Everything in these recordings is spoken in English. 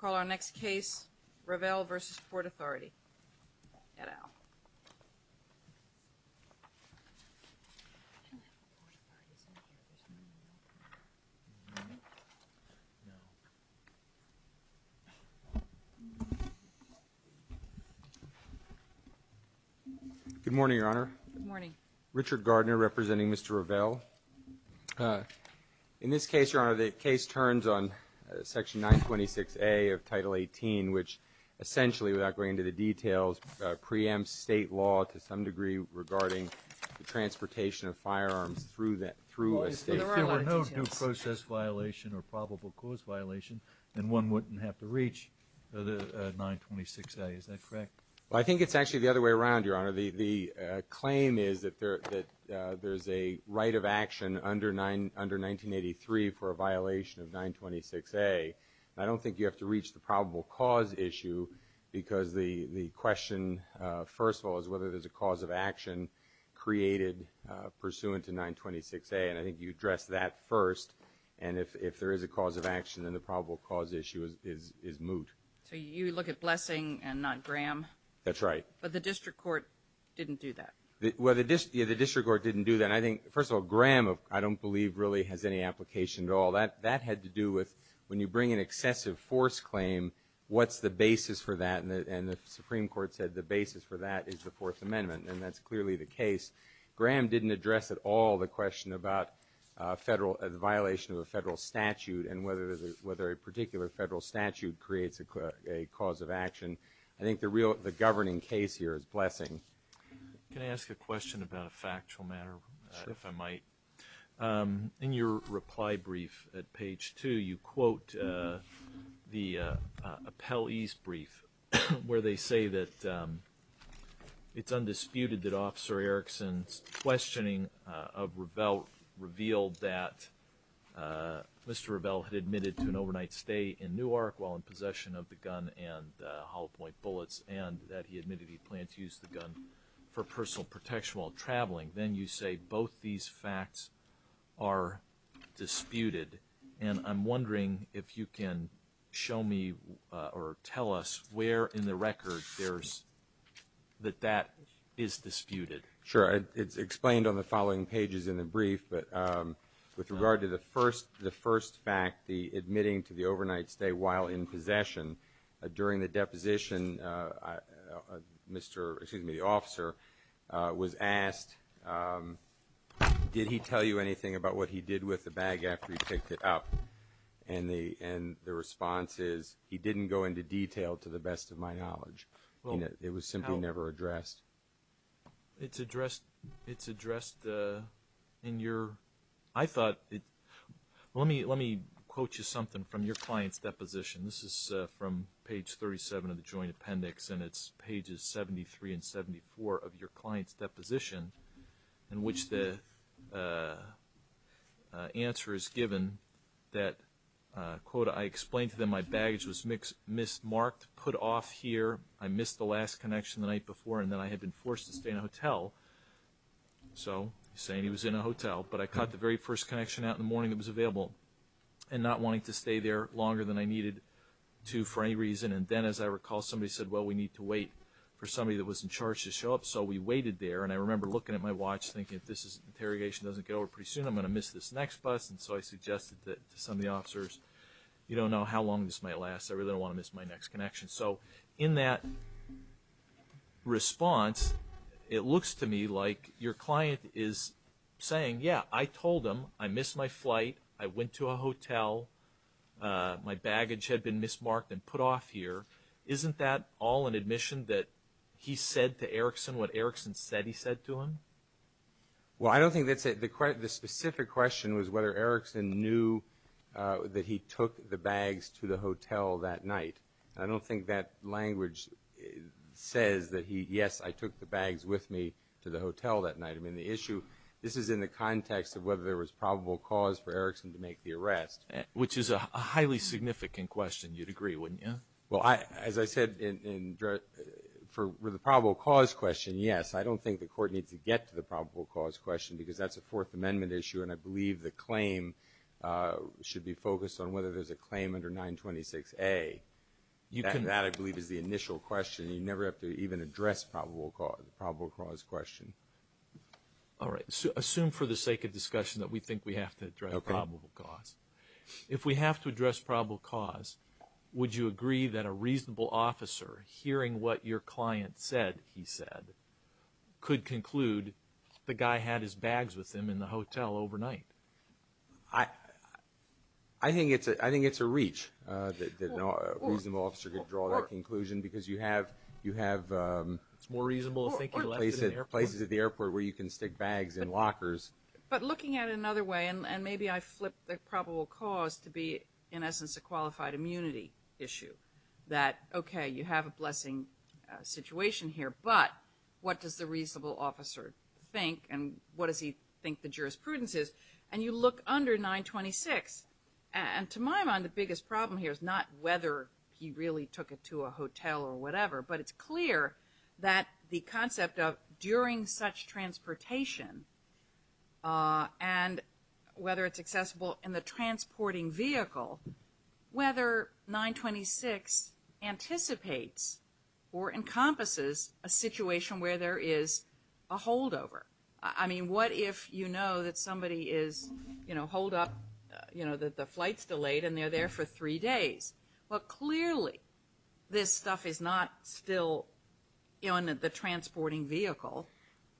Call our next case, Revell v. Port Authority, et al. Good morning, Your Honor. Good morning. Richard Gardner, representing Mr. Revell. In this case, Your Honor, the case turns on Section 926A of Title 18, which essentially, without going into the details, preempts state law to some degree regarding the transportation of firearms through a state... If there were no due process violation or probable cause violation, then one wouldn't have to reach 926A. Is that correct? I think it's actually the other way around, Your Honor. The claim is that there's a right of action under 1983 for a violation of 926A. I don't think you have to reach the probable cause issue because the question, first of all, is whether there's a cause of action created pursuant to 926A, and I think you addressed that first. And if there is a cause of action, then the probable cause issue is moot. So you look at Blessing and not Graham? That's right. But the district court didn't do that. Well, the district court didn't do that. I think, first of all, Graham, I don't believe, really has any application at all. That had to do with when you bring an excessive force claim, what's the basis for that? And the Supreme Court said the basis for that is the Fourth Amendment, and that's clearly the case. Graham didn't address at all the question about the violation of a federal statute and whether a particular federal statute creates a cause of action. I think the governing case here is Blessing. Can I ask a question about a factual matter, if I might? Sure. In your reply brief at page 2, you quote the appellee's brief, where they say that it's undisputed that Officer Erickson's questioning of Revelle revealed that Mr. Revelle had admitted to an overnight stay in Newark while in possession of the gun and hollow-point bullets, and that he admitted he planned to use the gun for personal protection while traveling. Then you say both these facts are disputed, and I'm wondering if you can show me or tell us where in the record that that is disputed. Sure. It's explained on the following pages in the brief, but with regard to the first fact, the admitting to the overnight stay while in possession, during the deposition, the officer was asked, did he tell you anything about what he did with the bag after he picked it up? And the response is, he didn't go into detail to the best of my knowledge. It was simply never addressed. It's addressed in your, I thought, let me quote you something from your client's deposition. This is from page 37 of the joint appendix, and it's pages 73 and 74 of your client's deposition, in which the answer is given that, quote, I explained to them my baggage was mismarked, put off here, I missed the last connection the night before, and then I had been forced to stay in a hotel. So he's saying he was in a hotel, but I caught the very first connection out in the morning that was available and not wanting to stay there longer than I needed to for any reason. And then, as I recall, somebody said, well, we need to wait for somebody that was in charge to show up, so we waited there. And I remember looking at my watch, thinking, if this interrogation doesn't get over pretty soon, I'm going to miss this next bus. And so I suggested to some of the officers, you don't know how long this might last. I really don't want to miss my next connection. So in that response, it looks to me like your client is saying, yeah, I told them I missed my flight, I went to a hotel, my baggage had been mismarked and put off here. Isn't that all an admission that he said to Erickson what Erickson said he said to him? Well, I don't think that's it. The specific question was whether Erickson knew that he took the bags to the hotel that night. I don't think that language says that he, yes, I took the bags with me to the hotel that night. I mean, the issue, this is in the context of whether there was probable cause for Erickson to make the arrest. Which is a highly significant question, you'd agree, wouldn't you? Well, as I said, for the probable cause question, yes. I don't think the Court needs to get to the probable cause question because that's a Fourth Amendment issue, and I believe the claim should be focused on whether there's a claim under 926A. That, I believe, is the initial question. You never have to even address the probable cause question. All right. Assume for the sake of discussion that we think we have to address probable cause. If we have to address probable cause, would you agree that a reasonable officer hearing what your client said he said could conclude the guy had his bags with him in the hotel overnight? I think it's a reach that a reasonable officer could draw that conclusion because you have places at the airport where you can stick bags in lockers. But looking at it another way, and maybe I flip the probable cause to be, in essence, a qualified immunity issue. That, okay, you have a blessing situation here, but what does the reasonable officer think and what does he think the jurisprudence is? And you look under 926. And to my mind, the biggest problem here is not whether he really took it to a hotel or whatever, but it's clear that the concept of during such transportation and whether it's accessible in the transporting vehicle, whether 926 anticipates or encompasses a situation where there is a holdover. I mean, what if you know that somebody is, you know, hold up, you know, that the flight's delayed and they're there for three days? Well, clearly, this stuff is not still in the transporting vehicle.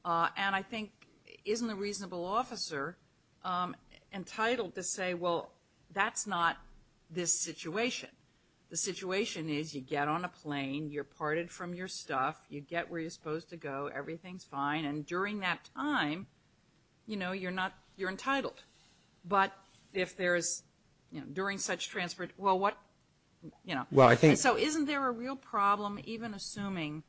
And I think isn't a reasonable officer entitled to say, well, that's not this situation. The situation is you get on a plane, you're parted from your stuff, you get where you're supposed to go, everything's fine, and during that time, you know, you're not you're entitled. But if there is, you know, during such transport, well, what, you know. And so isn't there a real problem even assuming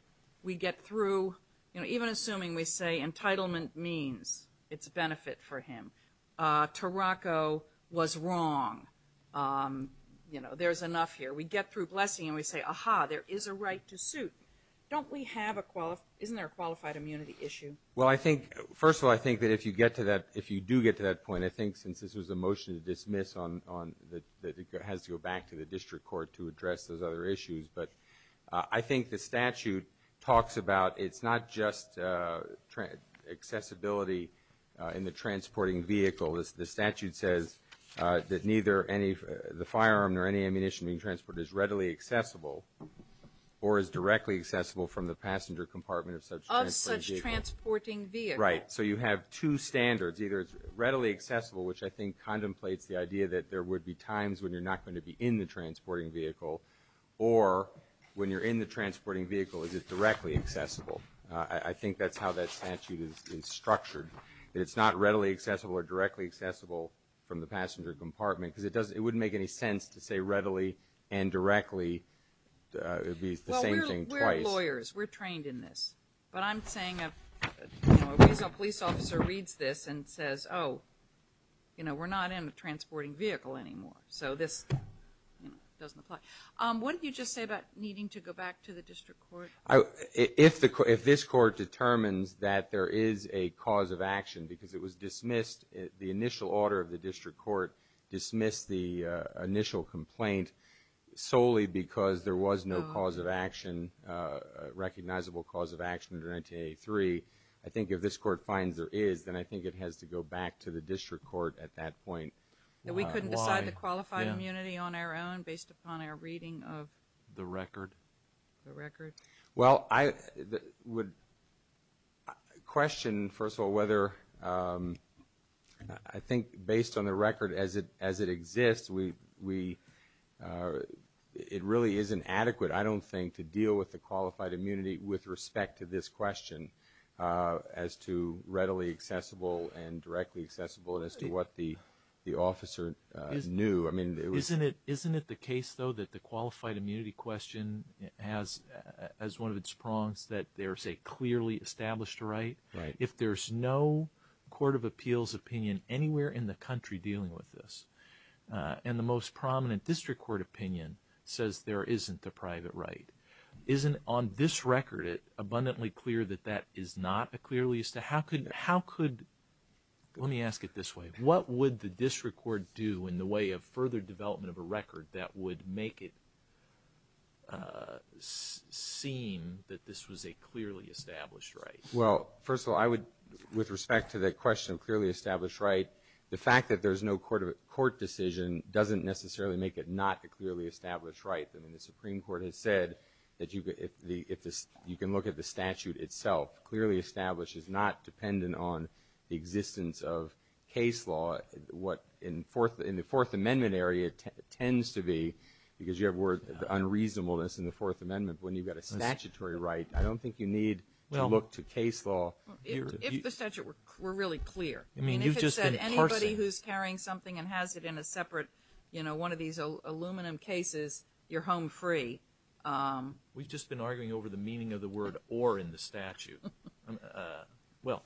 we get through, you know, even assuming we say entitlement means it's a benefit for him. Taroko was wrong. You know, there's enough here. We get through blessing and we say, aha, there is a right to suit. Don't we have a isn't there a qualified immunity issue? Well, I think, first of all, I think that if you get to that, if you do get to that point, and I think since this was a motion to dismiss on that it has to go back to the district court to address those other issues. But I think the statute talks about it's not just accessibility in the transporting vehicle. The statute says that neither any the firearm nor any ammunition being transported is readily accessible or is directly accessible from the passenger compartment of such transporting vehicle. Of such transporting vehicle. So you have two standards, either it's readily accessible, which I think contemplates the idea that there would be times when you're not going to be in the transporting vehicle, or when you're in the transporting vehicle is it directly accessible. I think that's how that statute is structured. That it's not readily accessible or directly accessible from the passenger compartment because it wouldn't make any sense to say readily and directly. It would be the same thing twice. We're lawyers. We're trained in this. But I'm saying a police officer reads this and says, oh, we're not in a transporting vehicle anymore. So this doesn't apply. What did you just say about needing to go back to the district court? If this court determines that there is a cause of action because it was dismissed, the initial order of the district court dismissed the initial complaint solely because there was no cause of action, recognizable cause of action under 1983, I think if this court finds there is, then I think it has to go back to the district court at that point. We couldn't decide the qualified immunity on our own based upon our reading of the record? Well, I would question, first of all, whether I think based on the record as it exists, it really isn't adequate, I don't think, to deal with the qualified immunity with respect to this question as to readily accessible and directly accessible and as to what the officer knew. Isn't it the case, though, that the qualified immunity question has as one of its prongs that there is a clearly established right? Right. If there's no court of appeals opinion anywhere in the country dealing with this, and the most prominent district court opinion says there isn't a private right, isn't on this record it abundantly clear that that is not a clearly established right? How could, let me ask it this way, what would the district court do in the way of further development of a record that would make it seem that this was a clearly established right? Well, first of all, I would, with respect to the question of clearly established right, the fact that there's no court decision doesn't necessarily make it not a clearly established right. I mean, the Supreme Court has said that you can look at the statute itself. Clearly established is not dependent on the existence of case law. What in the Fourth Amendment area tends to be, because you have the word unreasonableness in the Fourth Amendment, when you've got a statutory right, I don't think you need to look to case law. If the statute were really clear, I mean, if it said anybody who's carrying something and has it in a separate, you know, one of these aluminum cases, you're home free. We've just been arguing over the meaning of the word or in the statute. Well,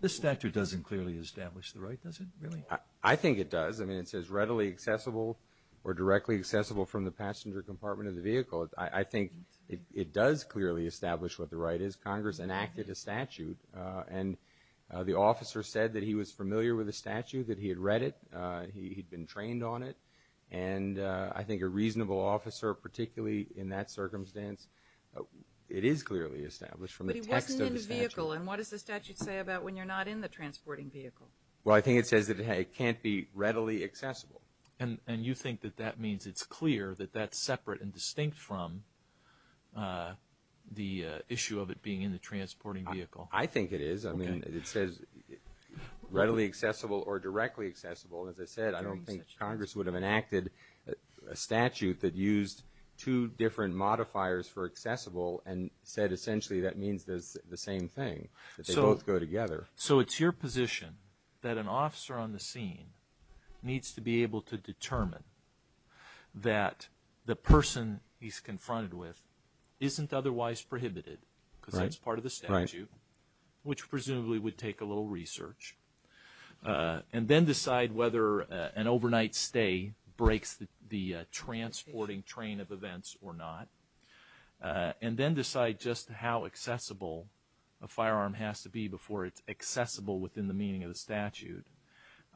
this statute doesn't clearly establish the right, does it, really? I think it does. I mean, it says readily accessible or directly accessible from the passenger compartment of the vehicle. I think it does clearly establish what the right is. Congress enacted a statute, and the officer said that he was familiar with the statute, that he had read it, he'd been trained on it, and I think a reasonable officer, particularly in that circumstance, it is clearly established from the text of the statute. But he wasn't in a vehicle, and what does the statute say about when you're not in the transporting vehicle? Well, I think it says that it can't be readily accessible. And you think that that means it's clear that that's separate and distinct from the issue of it being in the transporting vehicle? I think it is. I mean, it says readily accessible or directly accessible. As I said, I don't think Congress would have enacted a statute that used two different modifiers for accessible and said essentially that means the same thing, that they both go together. So it's your position that an officer on the scene needs to be able to determine that the person he's confronted with isn't otherwise prohibited because that's part of the statute, which presumably would take a little research, and then decide whether an overnight stay breaks the transporting train of events or not, and then decide just how accessible a firearm has to be before it's accessible within the meaning of the statute,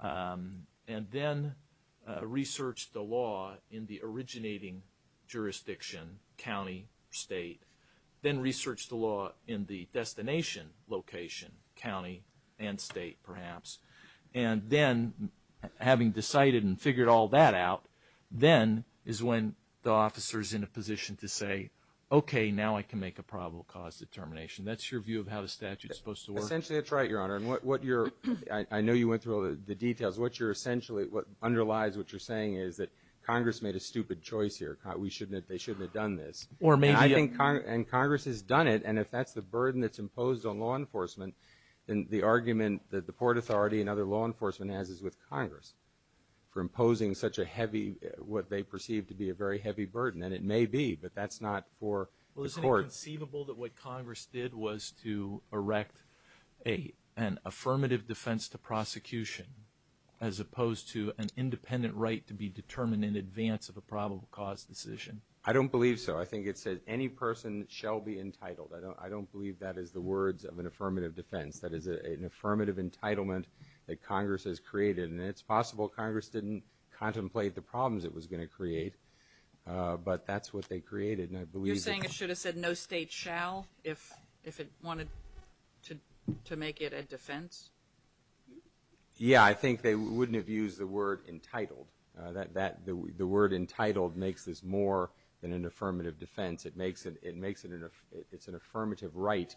and then research the law in the originating jurisdiction, county, state, then research the law in the destination location, county and state perhaps, and then having decided and figured all that out, then is when the officer's in a position to say, okay, now I can make a probable cause determination. That's your view of how the statute's supposed to work? Essentially, that's right, Your Honor. And what you're – I know you went through all the details. What you're essentially – underlies what you're saying is that Congress made a stupid choice here. They shouldn't have done this. And I think Congress has done it, and if that's the burden that's imposed on law enforcement, then the argument that the Port Authority and other law enforcement has is with Congress for imposing such a heavy – what they perceive to be a very heavy burden. And it may be, but that's not for the court. Well, isn't it conceivable that what Congress did was to erect an affirmative defense to prosecution as opposed to an independent right to be determined in advance of a probable cause decision? I don't believe so. I think it says any person shall be entitled. I don't believe that is the words of an affirmative defense. That is an affirmative entitlement that Congress has created. And it's possible Congress didn't contemplate the problems it was going to create, but that's what they created, and I believe that – You're saying it should have said no state shall if it wanted to make it a defense? Yeah, I think they wouldn't have used the word entitled. The word entitled makes this more than an affirmative defense. It makes it an – it's an affirmative right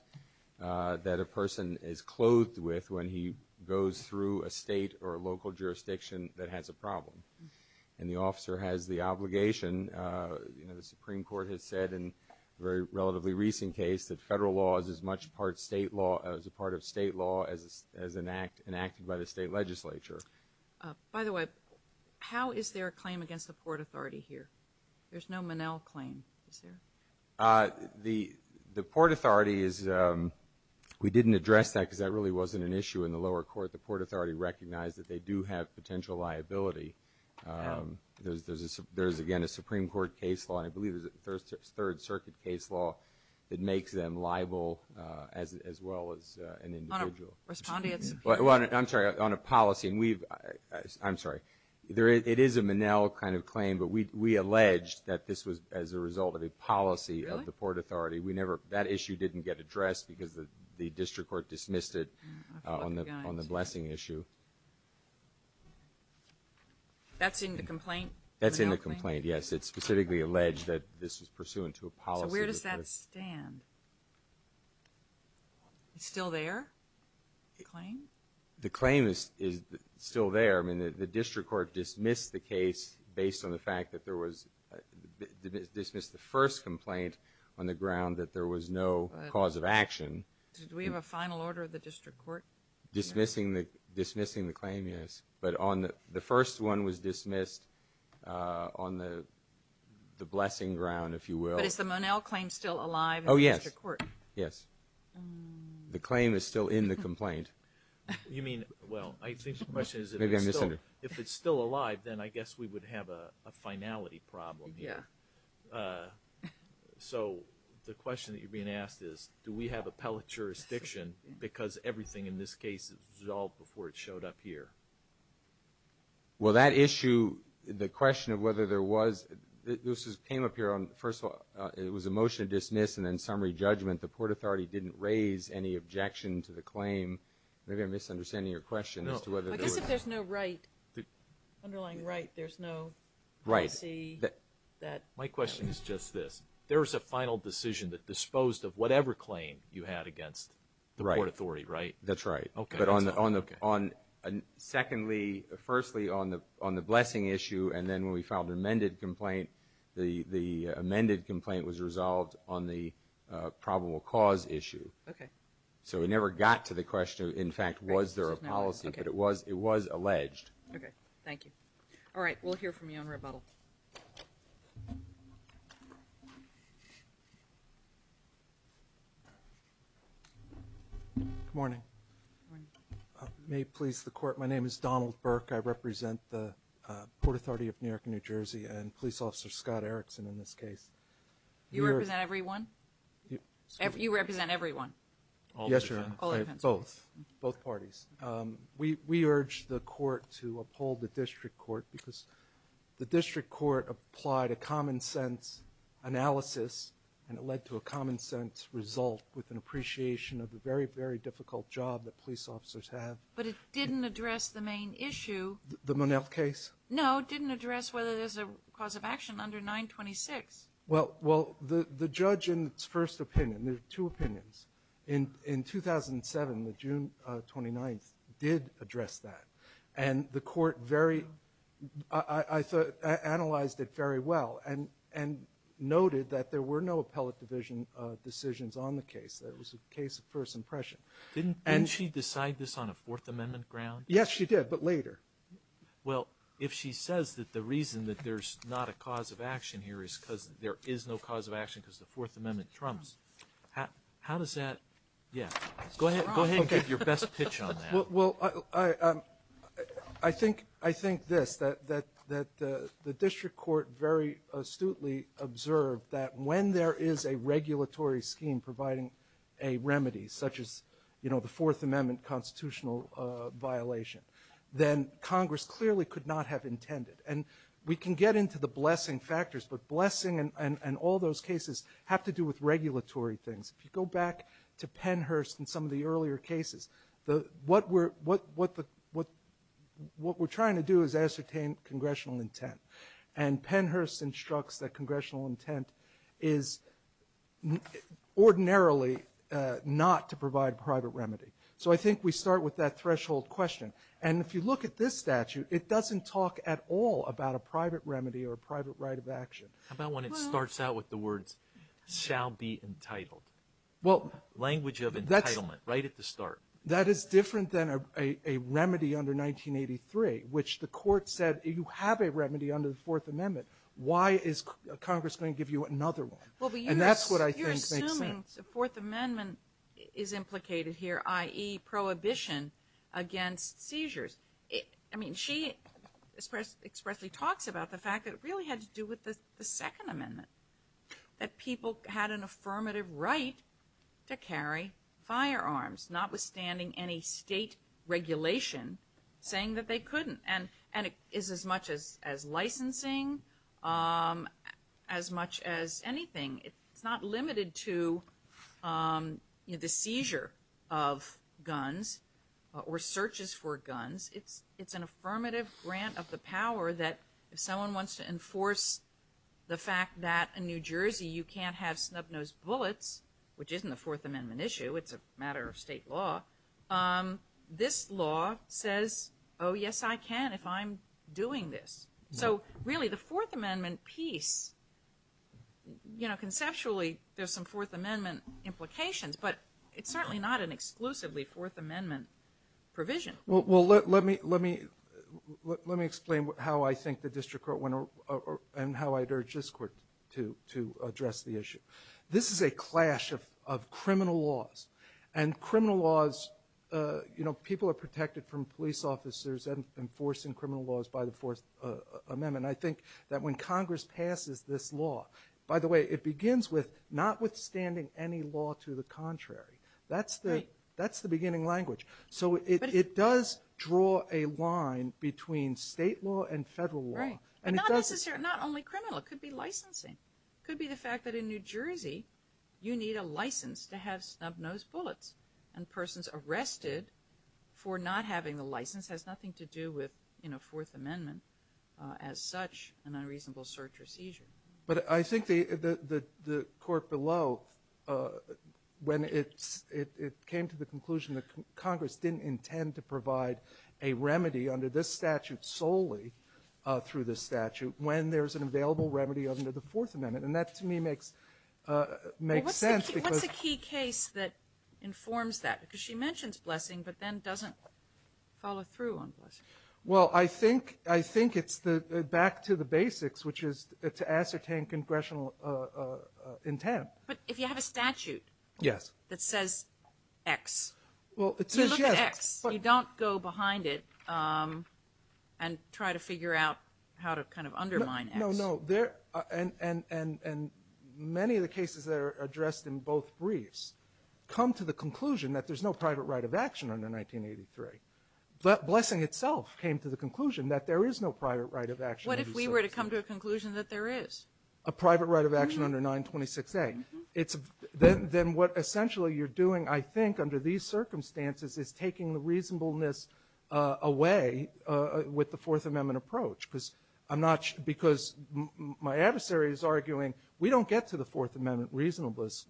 that a person is clothed with when he goes through a state or a local jurisdiction that has a problem. And the officer has the obligation. The Supreme Court has said in a very relatively recent case that federal law is as much part of state law as an act enacted by the state legislature. By the way, how is there a claim against the Port Authority here? There's no Monell claim, is there? The Port Authority is – we didn't address that because that really wasn't an issue in the lower court. The Port Authority recognized that they do have potential liability. There's, again, a Supreme Court case law, and I believe there's a Third Circuit case law that makes them liable as well as an individual. Responding to – Well, I'm sorry, on a policy, and we've – I'm sorry. It is a Monell kind of claim, but we alleged that this was as a result of a policy of the Port Authority. We never – that issue didn't get addressed because the district court dismissed it on the blessing issue. That's in the complaint? That's in the complaint, yes. It specifically alleged that this was pursuant to a policy. So where does that stand? It's still there, the claim? The claim is still there. I mean, the district court dismissed the case based on the fact that there was – dismissed the first complaint on the ground that there was no cause of action. Did we have a final order of the district court? Dismissing the claim, yes. But the first one was dismissed on the blessing ground, if you will. But is the Monell claim still alive in the district court? Yes. The claim is still in the complaint. You mean – well, I think the question is if it's still alive, then I guess we would have a finality problem here. So the question that you're being asked is, do we have appellate jurisdiction because everything in this case was resolved before it showed up here? Well, that issue, the question of whether there was – this came up here on – first of all, it was a motion to dismiss and then summary judgment. The Port Authority didn't raise any objection to the claim. Maybe I'm misunderstanding your question as to whether – No. I guess if there's no right, underlying right, there's no policy that – My question is just this. There was a final decision that disposed of whatever claim you had against the Port Authority, right? That's right. Okay. But on – secondly, firstly, on the blessing issue, and then when we filed an amended complaint, the amended complaint was resolved on the probable cause issue. Okay. So we never got to the question, in fact, was there a policy, but it was alleged. Okay. Thank you. All right. We'll hear from you on rebuttal. Good morning. Good morning. May it please the Court, my name is Donald Burke. I represent the Port Authority of New York and New Jersey and Police Officer Scott Erickson in this case. You represent everyone? You represent everyone? Yes, Your Honor. Both. Both parties. We urge the Court to uphold the District Court because the District Court applied a common-sense analysis and it led to a common-sense result with an appreciation of the very, very difficult job that police officers have. But it didn't address the main issue. The Monell case? No, it didn't address whether there's a cause of action under 926. Well, the judge in its first opinion, there are two opinions, in 2007, June 29th, did address that. And the Court very – I thought – analyzed it very well and noted that there were no appellate division decisions on the case. It was a case of first impression. Didn't she decide this on a Fourth Amendment ground? Yes, she did, but later. Well, if she says that the reason that there's not a cause of action here is because there is no cause of action because the Fourth Amendment trumps, how does that – yeah, go ahead and give your best pitch on that. Well, I think this, that the District Court very astutely observed that when there is a regulatory scheme providing a remedy such as the Fourth Amendment constitutional violation, then Congress clearly could not have intended. And we can get into the blessing factors, but blessing and all those cases have to do with regulatory things. If you go back to Pennhurst and some of the earlier cases, what we're trying to do is ascertain congressional intent. And Pennhurst instructs that congressional intent is ordinarily not to provide private remedy. So I think we start with that threshold question. And if you look at this statute, it doesn't talk at all about a private remedy or a private right of action. How about when it starts out with the words, shall be entitled, language of entitlement right at the start? That is different than a remedy under 1983, which the Court said you have a remedy under the Fourth Amendment. Why is Congress going to give you another one? And that's what I think makes sense. You're assuming the Fourth Amendment is implicated here, i.e., prohibition against seizures. I mean, she expressly talks about the fact that it really had to do with the Second Amendment, that people had an affirmative right to carry firearms, notwithstanding any state regulation saying that they couldn't. And it is as much as licensing, as much as anything. It's not limited to the seizure of guns or searches for guns. It's an affirmative grant of the power that if someone wants to enforce the fact that in New Jersey you can't have snub-nosed bullets, which isn't a Fourth Amendment issue, it's a matter of state law, this law says, oh, yes, I can if I'm doing this. So, really, the Fourth Amendment piece, you know, conceptually there's some Fourth Amendment implications, but it's certainly not an exclusively Fourth Amendment provision. Well, let me explain how I think the District Court went and how I'd urge this Court to address the issue. This is a clash of criminal laws. And criminal laws, you know, people are protected from police officers enforcing criminal laws by the Fourth Amendment. I think that when Congress passes this law, by the way, it begins with notwithstanding any law to the contrary. That's the beginning language. So it does draw a line between state law and federal law. Right, but not only criminal, it could be licensing. It could be the fact that in New Jersey you need a license to have snub-nosed bullets. And a person's arrested for not having the license has nothing to do with, you know, Fourth Amendment as such an unreasonable search or seizure. But I think the Court below, when it came to the conclusion that Congress didn't intend to provide a remedy under this statute solely through this statute when there's an available remedy under the Fourth Amendment. And that, to me, makes sense. Well, what's the key case that informs that? Because she mentions blessing, but then doesn't follow through on blessing. Well, I think it's back to the basics, which is to ascertain congressional intent. But if you have a statute that says X, you look at X. You don't go behind it and try to figure out how to kind of undermine X. No, no, no. And many of the cases that are addressed in both briefs come to the conclusion that there's no private right of action under 1983. But blessing itself came to the conclusion that there is no private right of action. What if we were to come to a conclusion that there is? A private right of action under 926A. Then what essentially you're doing, I think, under these circumstances, is taking the reasonableness away with the Fourth Amendment approach. Because my adversary is arguing we don't get to the Fourth Amendment reasonableness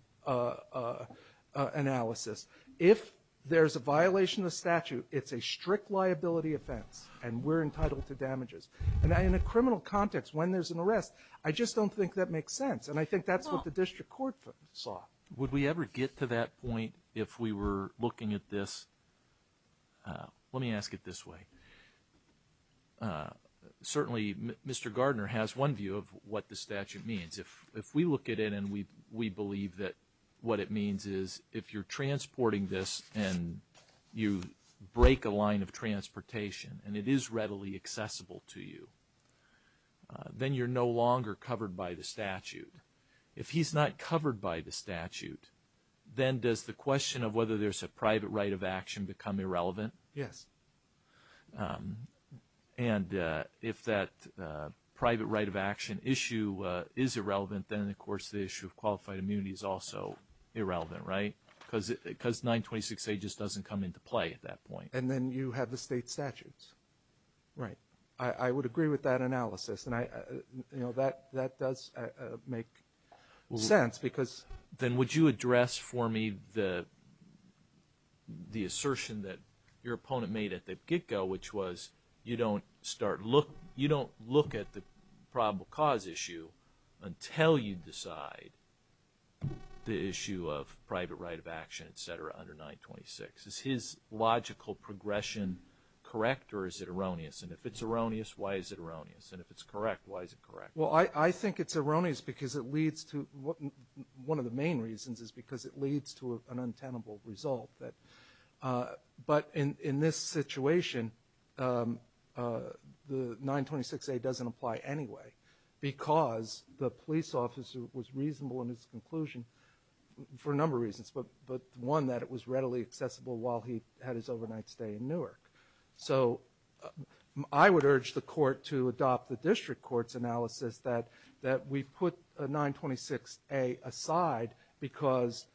analysis. If there's a violation of the statute, it's a strict liability offense, and we're entitled to damages. And in a criminal context, when there's an arrest, I just don't think that makes sense. And I think that's what the district court saw. Would we ever get to that point if we were looking at this? Let me ask it this way. Certainly, Mr. Gardner has one view of what the statute means. If we look at it and we believe that what it means is if you're transporting this and you break a line of transportation and it is readily accessible to you, then you're no longer covered by the statute. If he's not covered by the statute, then does the question of whether there's a private right of action become irrelevant? Yes. And if that private right of action issue is irrelevant, then, of course, the issue of qualified immunity is also irrelevant, right? Because 926A just doesn't come into play at that point. And then you have the state statutes. Right. I would agree with that analysis, and that does make sense. Then would you address for me the assertion that your opponent made at the get-go, which was you don't look at the probable cause issue until you decide the issue of private right of action, et cetera, under 926. Is his logical progression correct, or is it erroneous? And if it's erroneous, why is it erroneous? And if it's correct, why is it correct? Well, I think it's erroneous because it leads to one of the main reasons is because it leads to an untenable result. But in this situation, the 926A doesn't apply anyway because the police officer was reasonable in his conclusion for a number of reasons, but one, that it was readily accessible while he had his overnight stay in Newark. So I would urge the court to adopt the district court's analysis that we put 926A aside because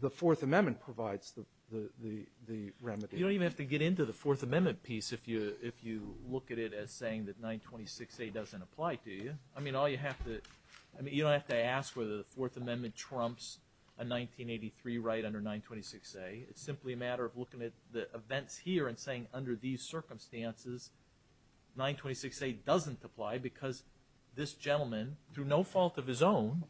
the Fourth Amendment provides the remedy. You don't even have to get into the Fourth Amendment piece if you look at it as saying that 926A doesn't apply, do you? I mean, you don't have to ask whether the Fourth Amendment trumps a 1983 right under 926A. It's simply a matter of looking at the events here and saying, under these circumstances, 926A doesn't apply because this gentleman, through no fault of his own,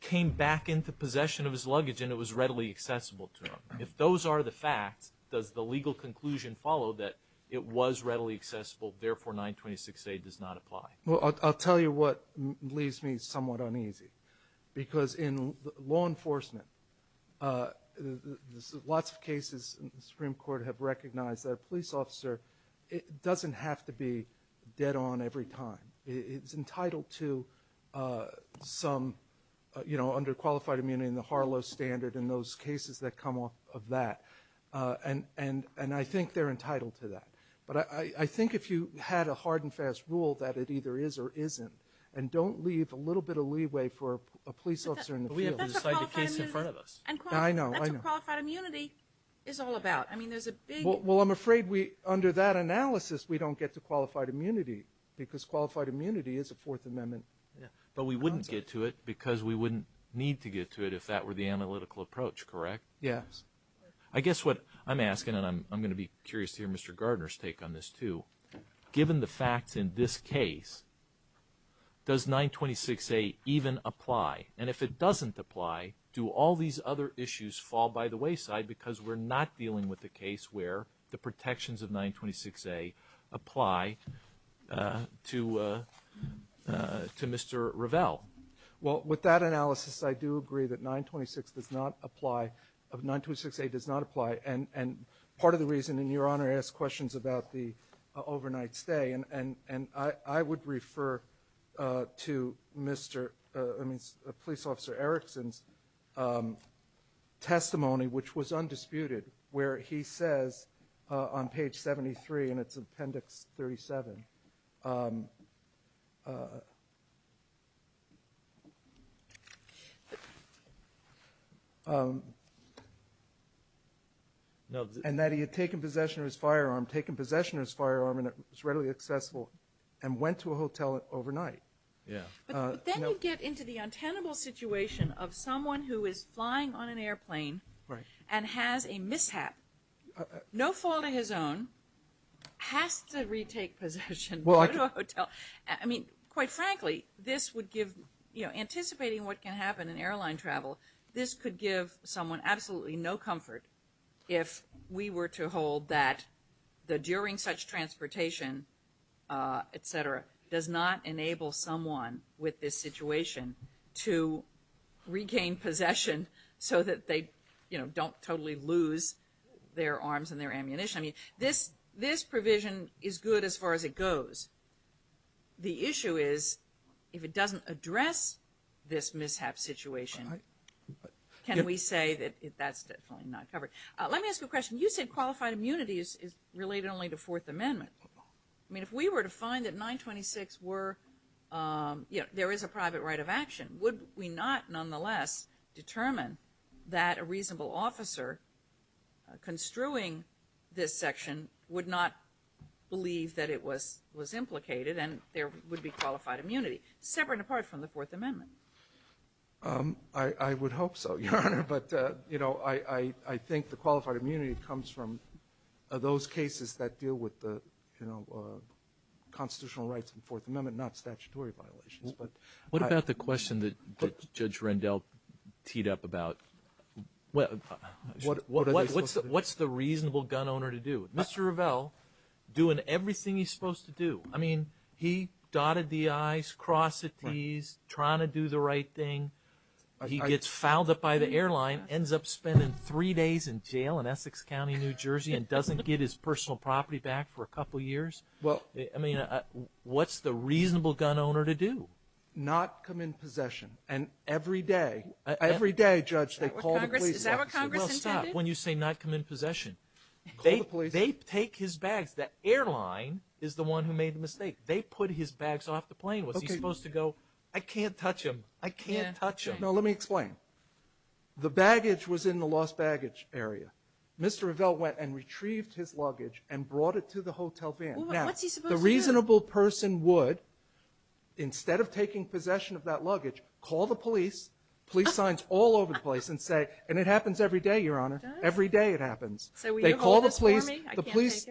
came back into possession of his luggage and it was readily accessible to him. If those are the facts, does the legal conclusion follow that it was readily accessible, therefore 926A does not apply? Well, I'll tell you what leaves me somewhat uneasy because in law enforcement, lots of cases in the Supreme Court have recognized that a police officer doesn't have to be dead on every time. It's entitled to some, you know, under qualified immunity and the Harlow Standard and those cases that come off of that. And I think they're entitled to that. But I think if you had a hard and fast rule that it either is or isn't and don't leave a little bit of leeway for a police officer in the field to decide the case in front of us. That's what qualified immunity is all about. Well, I'm afraid under that analysis we don't get to qualified immunity because qualified immunity is a Fourth Amendment concept. But we wouldn't get to it because we wouldn't need to get to it if that were the analytical approach, correct? Yes. I guess what I'm asking, and I'm going to be curious to hear Mr. Gardner's take on this too, given the facts in this case, does 926A even apply? And if it doesn't apply, do all these other issues fall by the wayside because we're not dealing with a case where the protections of 926A apply to Mr. Revelle? Well, with that analysis I do agree that 926A does not apply. And part of the reason, and Your Honor asked questions about the overnight stay, and I would refer to Police Officer Erickson's testimony, which was undisputed, where he says on page 73, and it's Appendix 37, and that he had taken possession of his firearm, taken possession of his firearm and it was readily accessible, and went to a hotel overnight. But then you get into the untenable situation of someone who is flying on an airplane and has a mishap, no fault of his own, has to retake possession, go to a hotel. I mean, quite frankly, anticipating what can happen in airline travel, this could give someone absolutely no comfort if we were to hold that during such transportation, et cetera, does not enable someone with this situation to regain possession so that they don't totally lose their arms and their ammunition. I mean, this provision is good as far as it goes. The issue is if it doesn't address this mishap situation, can we say that that's definitely not covered? Let me ask you a question. You said qualified immunity is related only to Fourth Amendment. I mean, if we were to find that 926 were, you know, there is a private right of action, would we not nonetheless determine that a reasonable officer construing this section would not believe that it was implicated and there would be qualified immunity, separate and apart from the Fourth Amendment? I would hope so, Your Honor. But, you know, I think the qualified immunity comes from those cases that deal with the constitutional rights of the Fourth Amendment, not statutory violations. What about the question that Judge Rendell teed up about what's the reasonable gun owner to do? Mr. Revelle, doing everything he's supposed to do. I mean, he dotted the I's, crossed the T's, trying to do the right thing. He gets fouled up by the airline, ends up spending three days in jail in Essex County, New Jersey, and doesn't get his personal property back for a couple years. I mean, what's the reasonable gun owner to do? Not come in possession. And every day, every day, Judge, they call the police. Is that what Congress intended? Well, stop. When you say not come in possession, they take his bags. The airline is the one who made the mistake. They put his bags off the plane. Was he supposed to go, I can't touch them, I can't touch them? No, let me explain. The baggage was in the lost baggage area. Mr. Revelle went and retrieved his luggage and brought it to the hotel van. Now, the reasonable person would, instead of taking possession of that luggage, call the police, police signs all over the place, and say, and it happens every day, Your Honor, every day it happens. So will you hold this for me? The police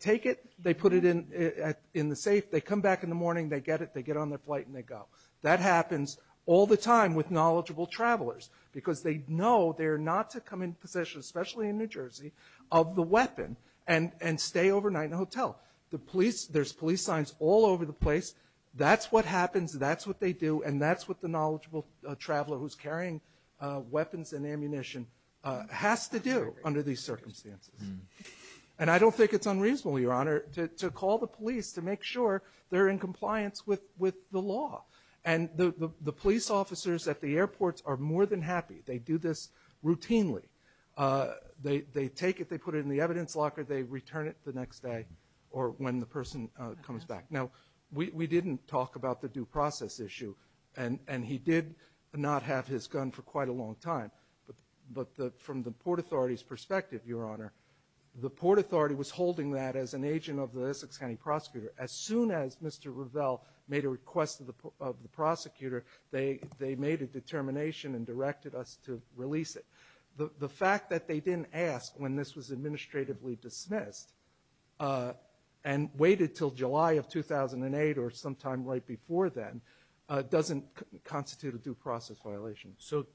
take it, they put it in the safe. They come back in the morning, they get it, they get on their flight, and they go. That happens all the time with knowledgeable travelers, because they know they're not to come in possession, especially in New Jersey, of the weapon and stay overnight in a hotel. The police, there's police signs all over the place. That's what happens, that's what they do, and that's what the knowledgeable traveler who's carrying weapons and ammunition has to do under these circumstances. And I don't think it's unreasonable, Your Honor, to call the police to make sure they're in compliance with the law. And the police officers at the airports are more than happy. They do this routinely. They take it, they put it in the evidence locker, they return it the next day or when the person comes back. Now, we didn't talk about the due process issue, and he did not have his gun for quite a long time. But from the Port Authority's perspective, Your Honor, the Port Authority was holding that as an agent of the Essex County prosecutor. As soon as Mr. Revell made a request of the prosecutor, they made a determination and directed us to release it. The fact that they didn't ask when this was administratively dismissed and waited until July of 2008 or sometime right before then doesn't constitute a due process violation. So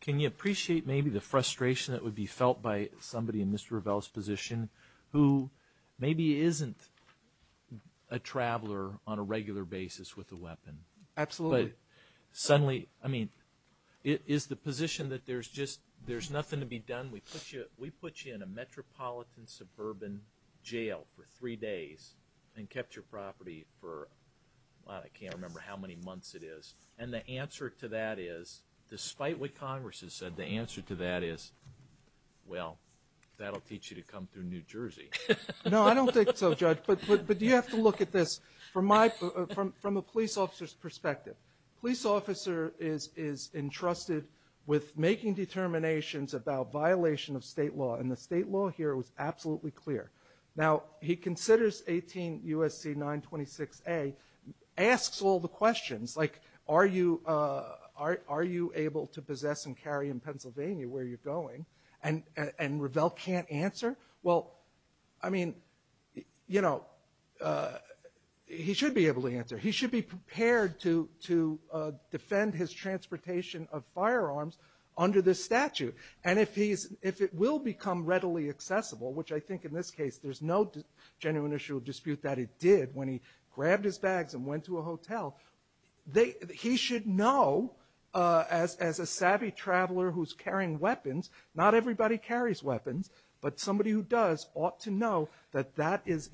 can you appreciate maybe the frustration that would be felt by somebody in Mr. Revell's position who maybe isn't a traveler on a regular basis with a weapon? Absolutely. But suddenly, I mean, is the position that there's just nothing to be done? We put you in a metropolitan suburban jail for three days and kept your property for, I can't remember how many months it is. And the answer to that is, despite what Congress has said, the answer to that is, well, that'll teach you to come through New Jersey. No, I don't think so, Judge. But you have to look at this from a police officer's perspective. A police officer is entrusted with making determinations about violation of state law, and the state law here was absolutely clear. Now, he considers 18 U.S.C. 926a, asks all the questions, like are you able to possess and carry in Pennsylvania where you're going? And Revell can't answer? Well, I mean, you know, he should be able to answer. He should be prepared to defend his transportation of firearms under this statute. And if it will become readily accessible, which I think in this case there's no genuine issue of dispute that it did when he grabbed his bags and went to a hotel, he should know as a savvy traveler who's carrying weapons, not everybody carries weapons, but somebody who does ought to know that that is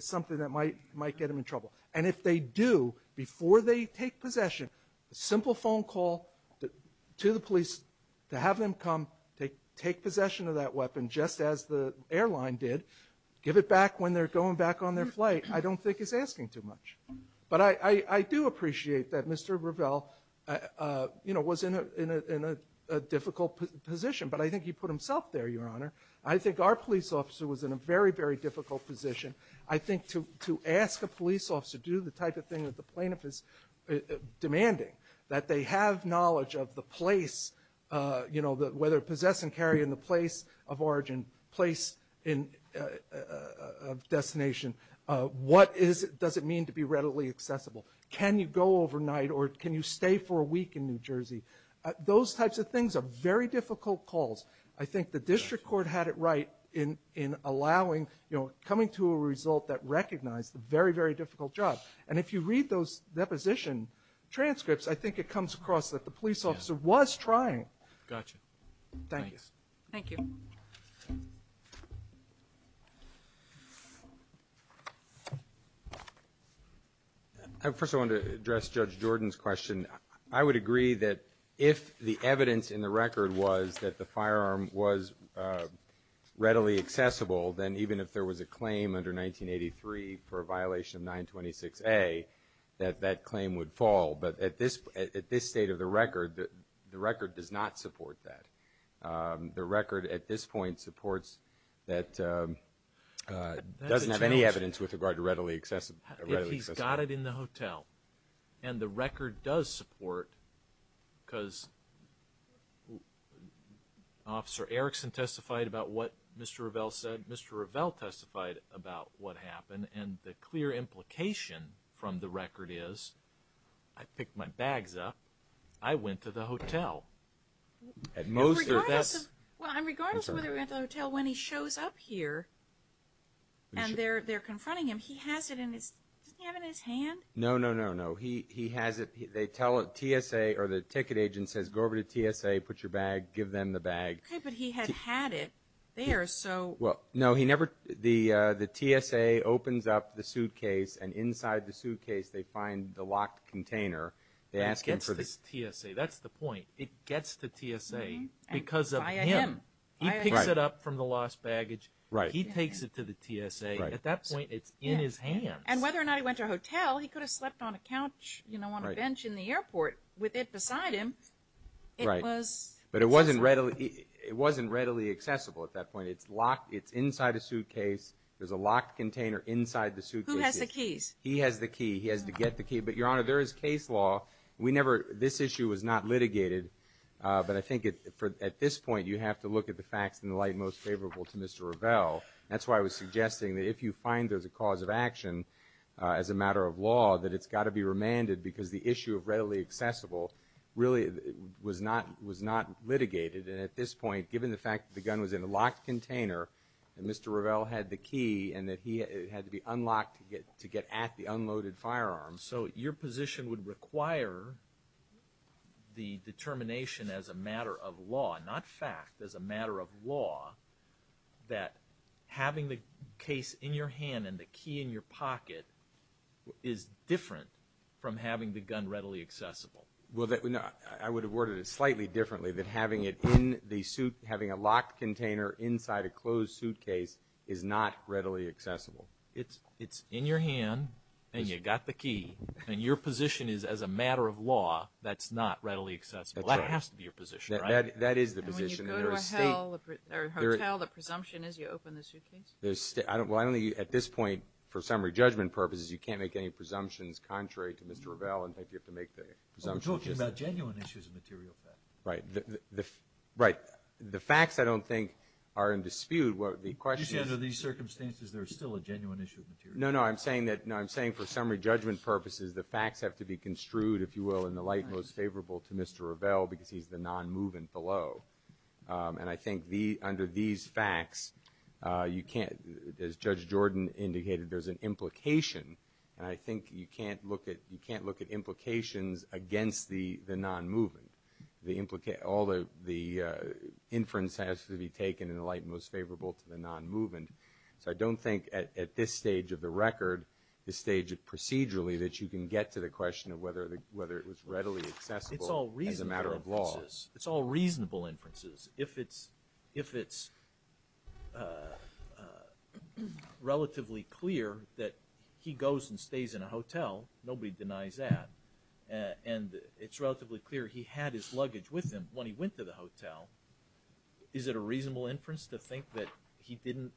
something that might get him in trouble. And if they do, before they take possession, a simple phone call to the police to have them come, take possession of that weapon just as the airline did, give it back when they're going back on their flight, I don't think he's asking too much. But I do appreciate that Mr. Revell, you know, was in a difficult position. But I think he put himself there, Your Honor. I think our police officer was in a very, very difficult position. I think to ask a police officer to do the type of thing that the plaintiff is demanding, that they have knowledge of the place, you know, whether possess and carry in the place of origin, place of destination, what does it mean to be readily accessible? Can you go overnight or can you stay for a week in New Jersey? Those types of things are very difficult calls. I think the district court had it right in allowing, you know, coming to a result that recognized the very, very difficult job. And if you read those deposition transcripts, I think it comes across that the police officer was trying. Gotcha. Thank you. Thank you. First I want to address Judge Jordan's question. I would agree that if the evidence in the record was that the firearm was readily accessible, then even if there was a claim under 1983 for a violation of 926A, that that claim would fall. But at this state of the record, the record does not support that. The record at this point supports that it doesn't have any evidence with regard to readily accessible. If he's got it in the hotel and the record does support, because Officer Erickson testified about what Mr. Revelle said, Mr. Revelle testified about what happened, and the clear implication from the record is, I picked my bags up, I went to the hotel. Regardless of whether he went to the hotel, when he shows up here and they're confronting him, he has it in his, doesn't he have it in his hand? No, no, no, no. He has it, they tell it, TSA or the ticket agent says, go over to TSA, put your bag, give them the bag. Okay, but he had had it there, so. Well, no, he never, the TSA opens up the suitcase and inside the suitcase they find the locked container. They ask him for the. It gets to TSA, that's the point. It gets to TSA because of him. Via him. He picks it up from the lost baggage. Right. He takes it to the TSA. Right. At that point, it's in his hands. And whether or not he went to a hotel, he could have slept on a couch, you know, on a bench in the airport. With it beside him, it was. Right, but it wasn't readily accessible at that point. It's locked, it's inside a suitcase. There's a locked container inside the suitcase. Who has the keys? He has the key. He has to get the key. But, Your Honor, there is case law. We never, this issue was not litigated. But I think at this point you have to look at the facts in the light most favorable to Mr. Revelle. That's why I was suggesting that if you find there's a cause of action as a matter of law, that it's got to be remanded because the issue of readily accessible really was not litigated. And at this point, given the fact that the gun was in a locked container and Mr. Revelle had the key and that it had to be unlocked to get at the unloaded firearm. So your position would require the determination as a matter of law, not fact, as a matter of law, that having the case in your hand and the key in your pocket is different from having the gun readily accessible. Well, I would have worded it slightly differently than having it in the suit, having a locked container inside a closed suitcase is not readily accessible. It's in your hand and you've got the key. And your position is as a matter of law that's not readily accessible. That has to be your position, right? That is the position. And when you go to a hotel, the presumption is you open the suitcase? Well, I don't think at this point for summary judgment purposes you can't make any presumptions contrary to Mr. Revelle. In fact, you have to make the presumption. We're talking about genuine issues of material fact. Right. Right. The facts, I don't think, are in dispute. Under these circumstances, there is still a genuine issue of material fact. No, no. I'm saying that for summary judgment purposes, the facts have to be construed, if you will, in the light most favorable to Mr. Revelle because he's the non-movement below. And I think under these facts, you can't, as Judge Jordan indicated, there's an implication. And I think you can't look at implications against the non-movement. All the inference has to be taken in the light most favorable to the non-movement. So I don't think at this stage of the record, this stage procedurally, that you can get to the question of whether it was readily accessible as a matter of law. It's all reasonable inferences. It's all reasonable inferences. It's relatively clear that he goes and stays in a hotel. Nobody denies that. And it's relatively clear he had his luggage with him when he went to the hotel. Is it a reasonable inference to think that he didn't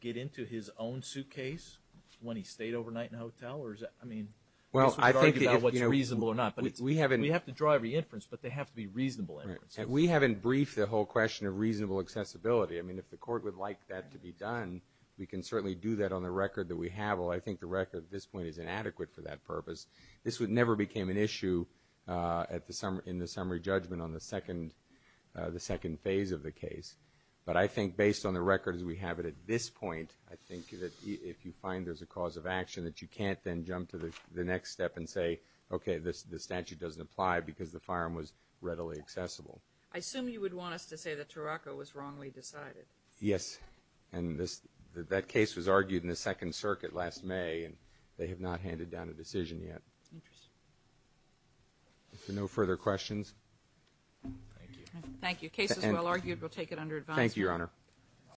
get into his own suitcase when he stayed overnight in a hotel? Or is that, I mean, I guess we're talking about what's reasonable or not. We have to draw every inference, but they have to be reasonable inferences. And we haven't briefed the whole question of reasonable accessibility. I mean, if the court would like that to be done, we can certainly do that on the record that we have. Well, I think the record at this point is inadequate for that purpose. This never became an issue in the summary judgment on the second phase of the case. But I think based on the record as we have it at this point, I think that if you find there's a cause of action that you can't then jump to the next step and say, okay, the statute doesn't apply because the firearm was readily accessible. I assume you would want us to say that Turaco was wrongly decided. Yes. And that case was argued in the Second Circuit last May, and they have not handed down a decision yet. Interesting. If there are no further questions. Thank you. Thank you. Case is well argued. We'll take it under advice. Thank you, Your Honor.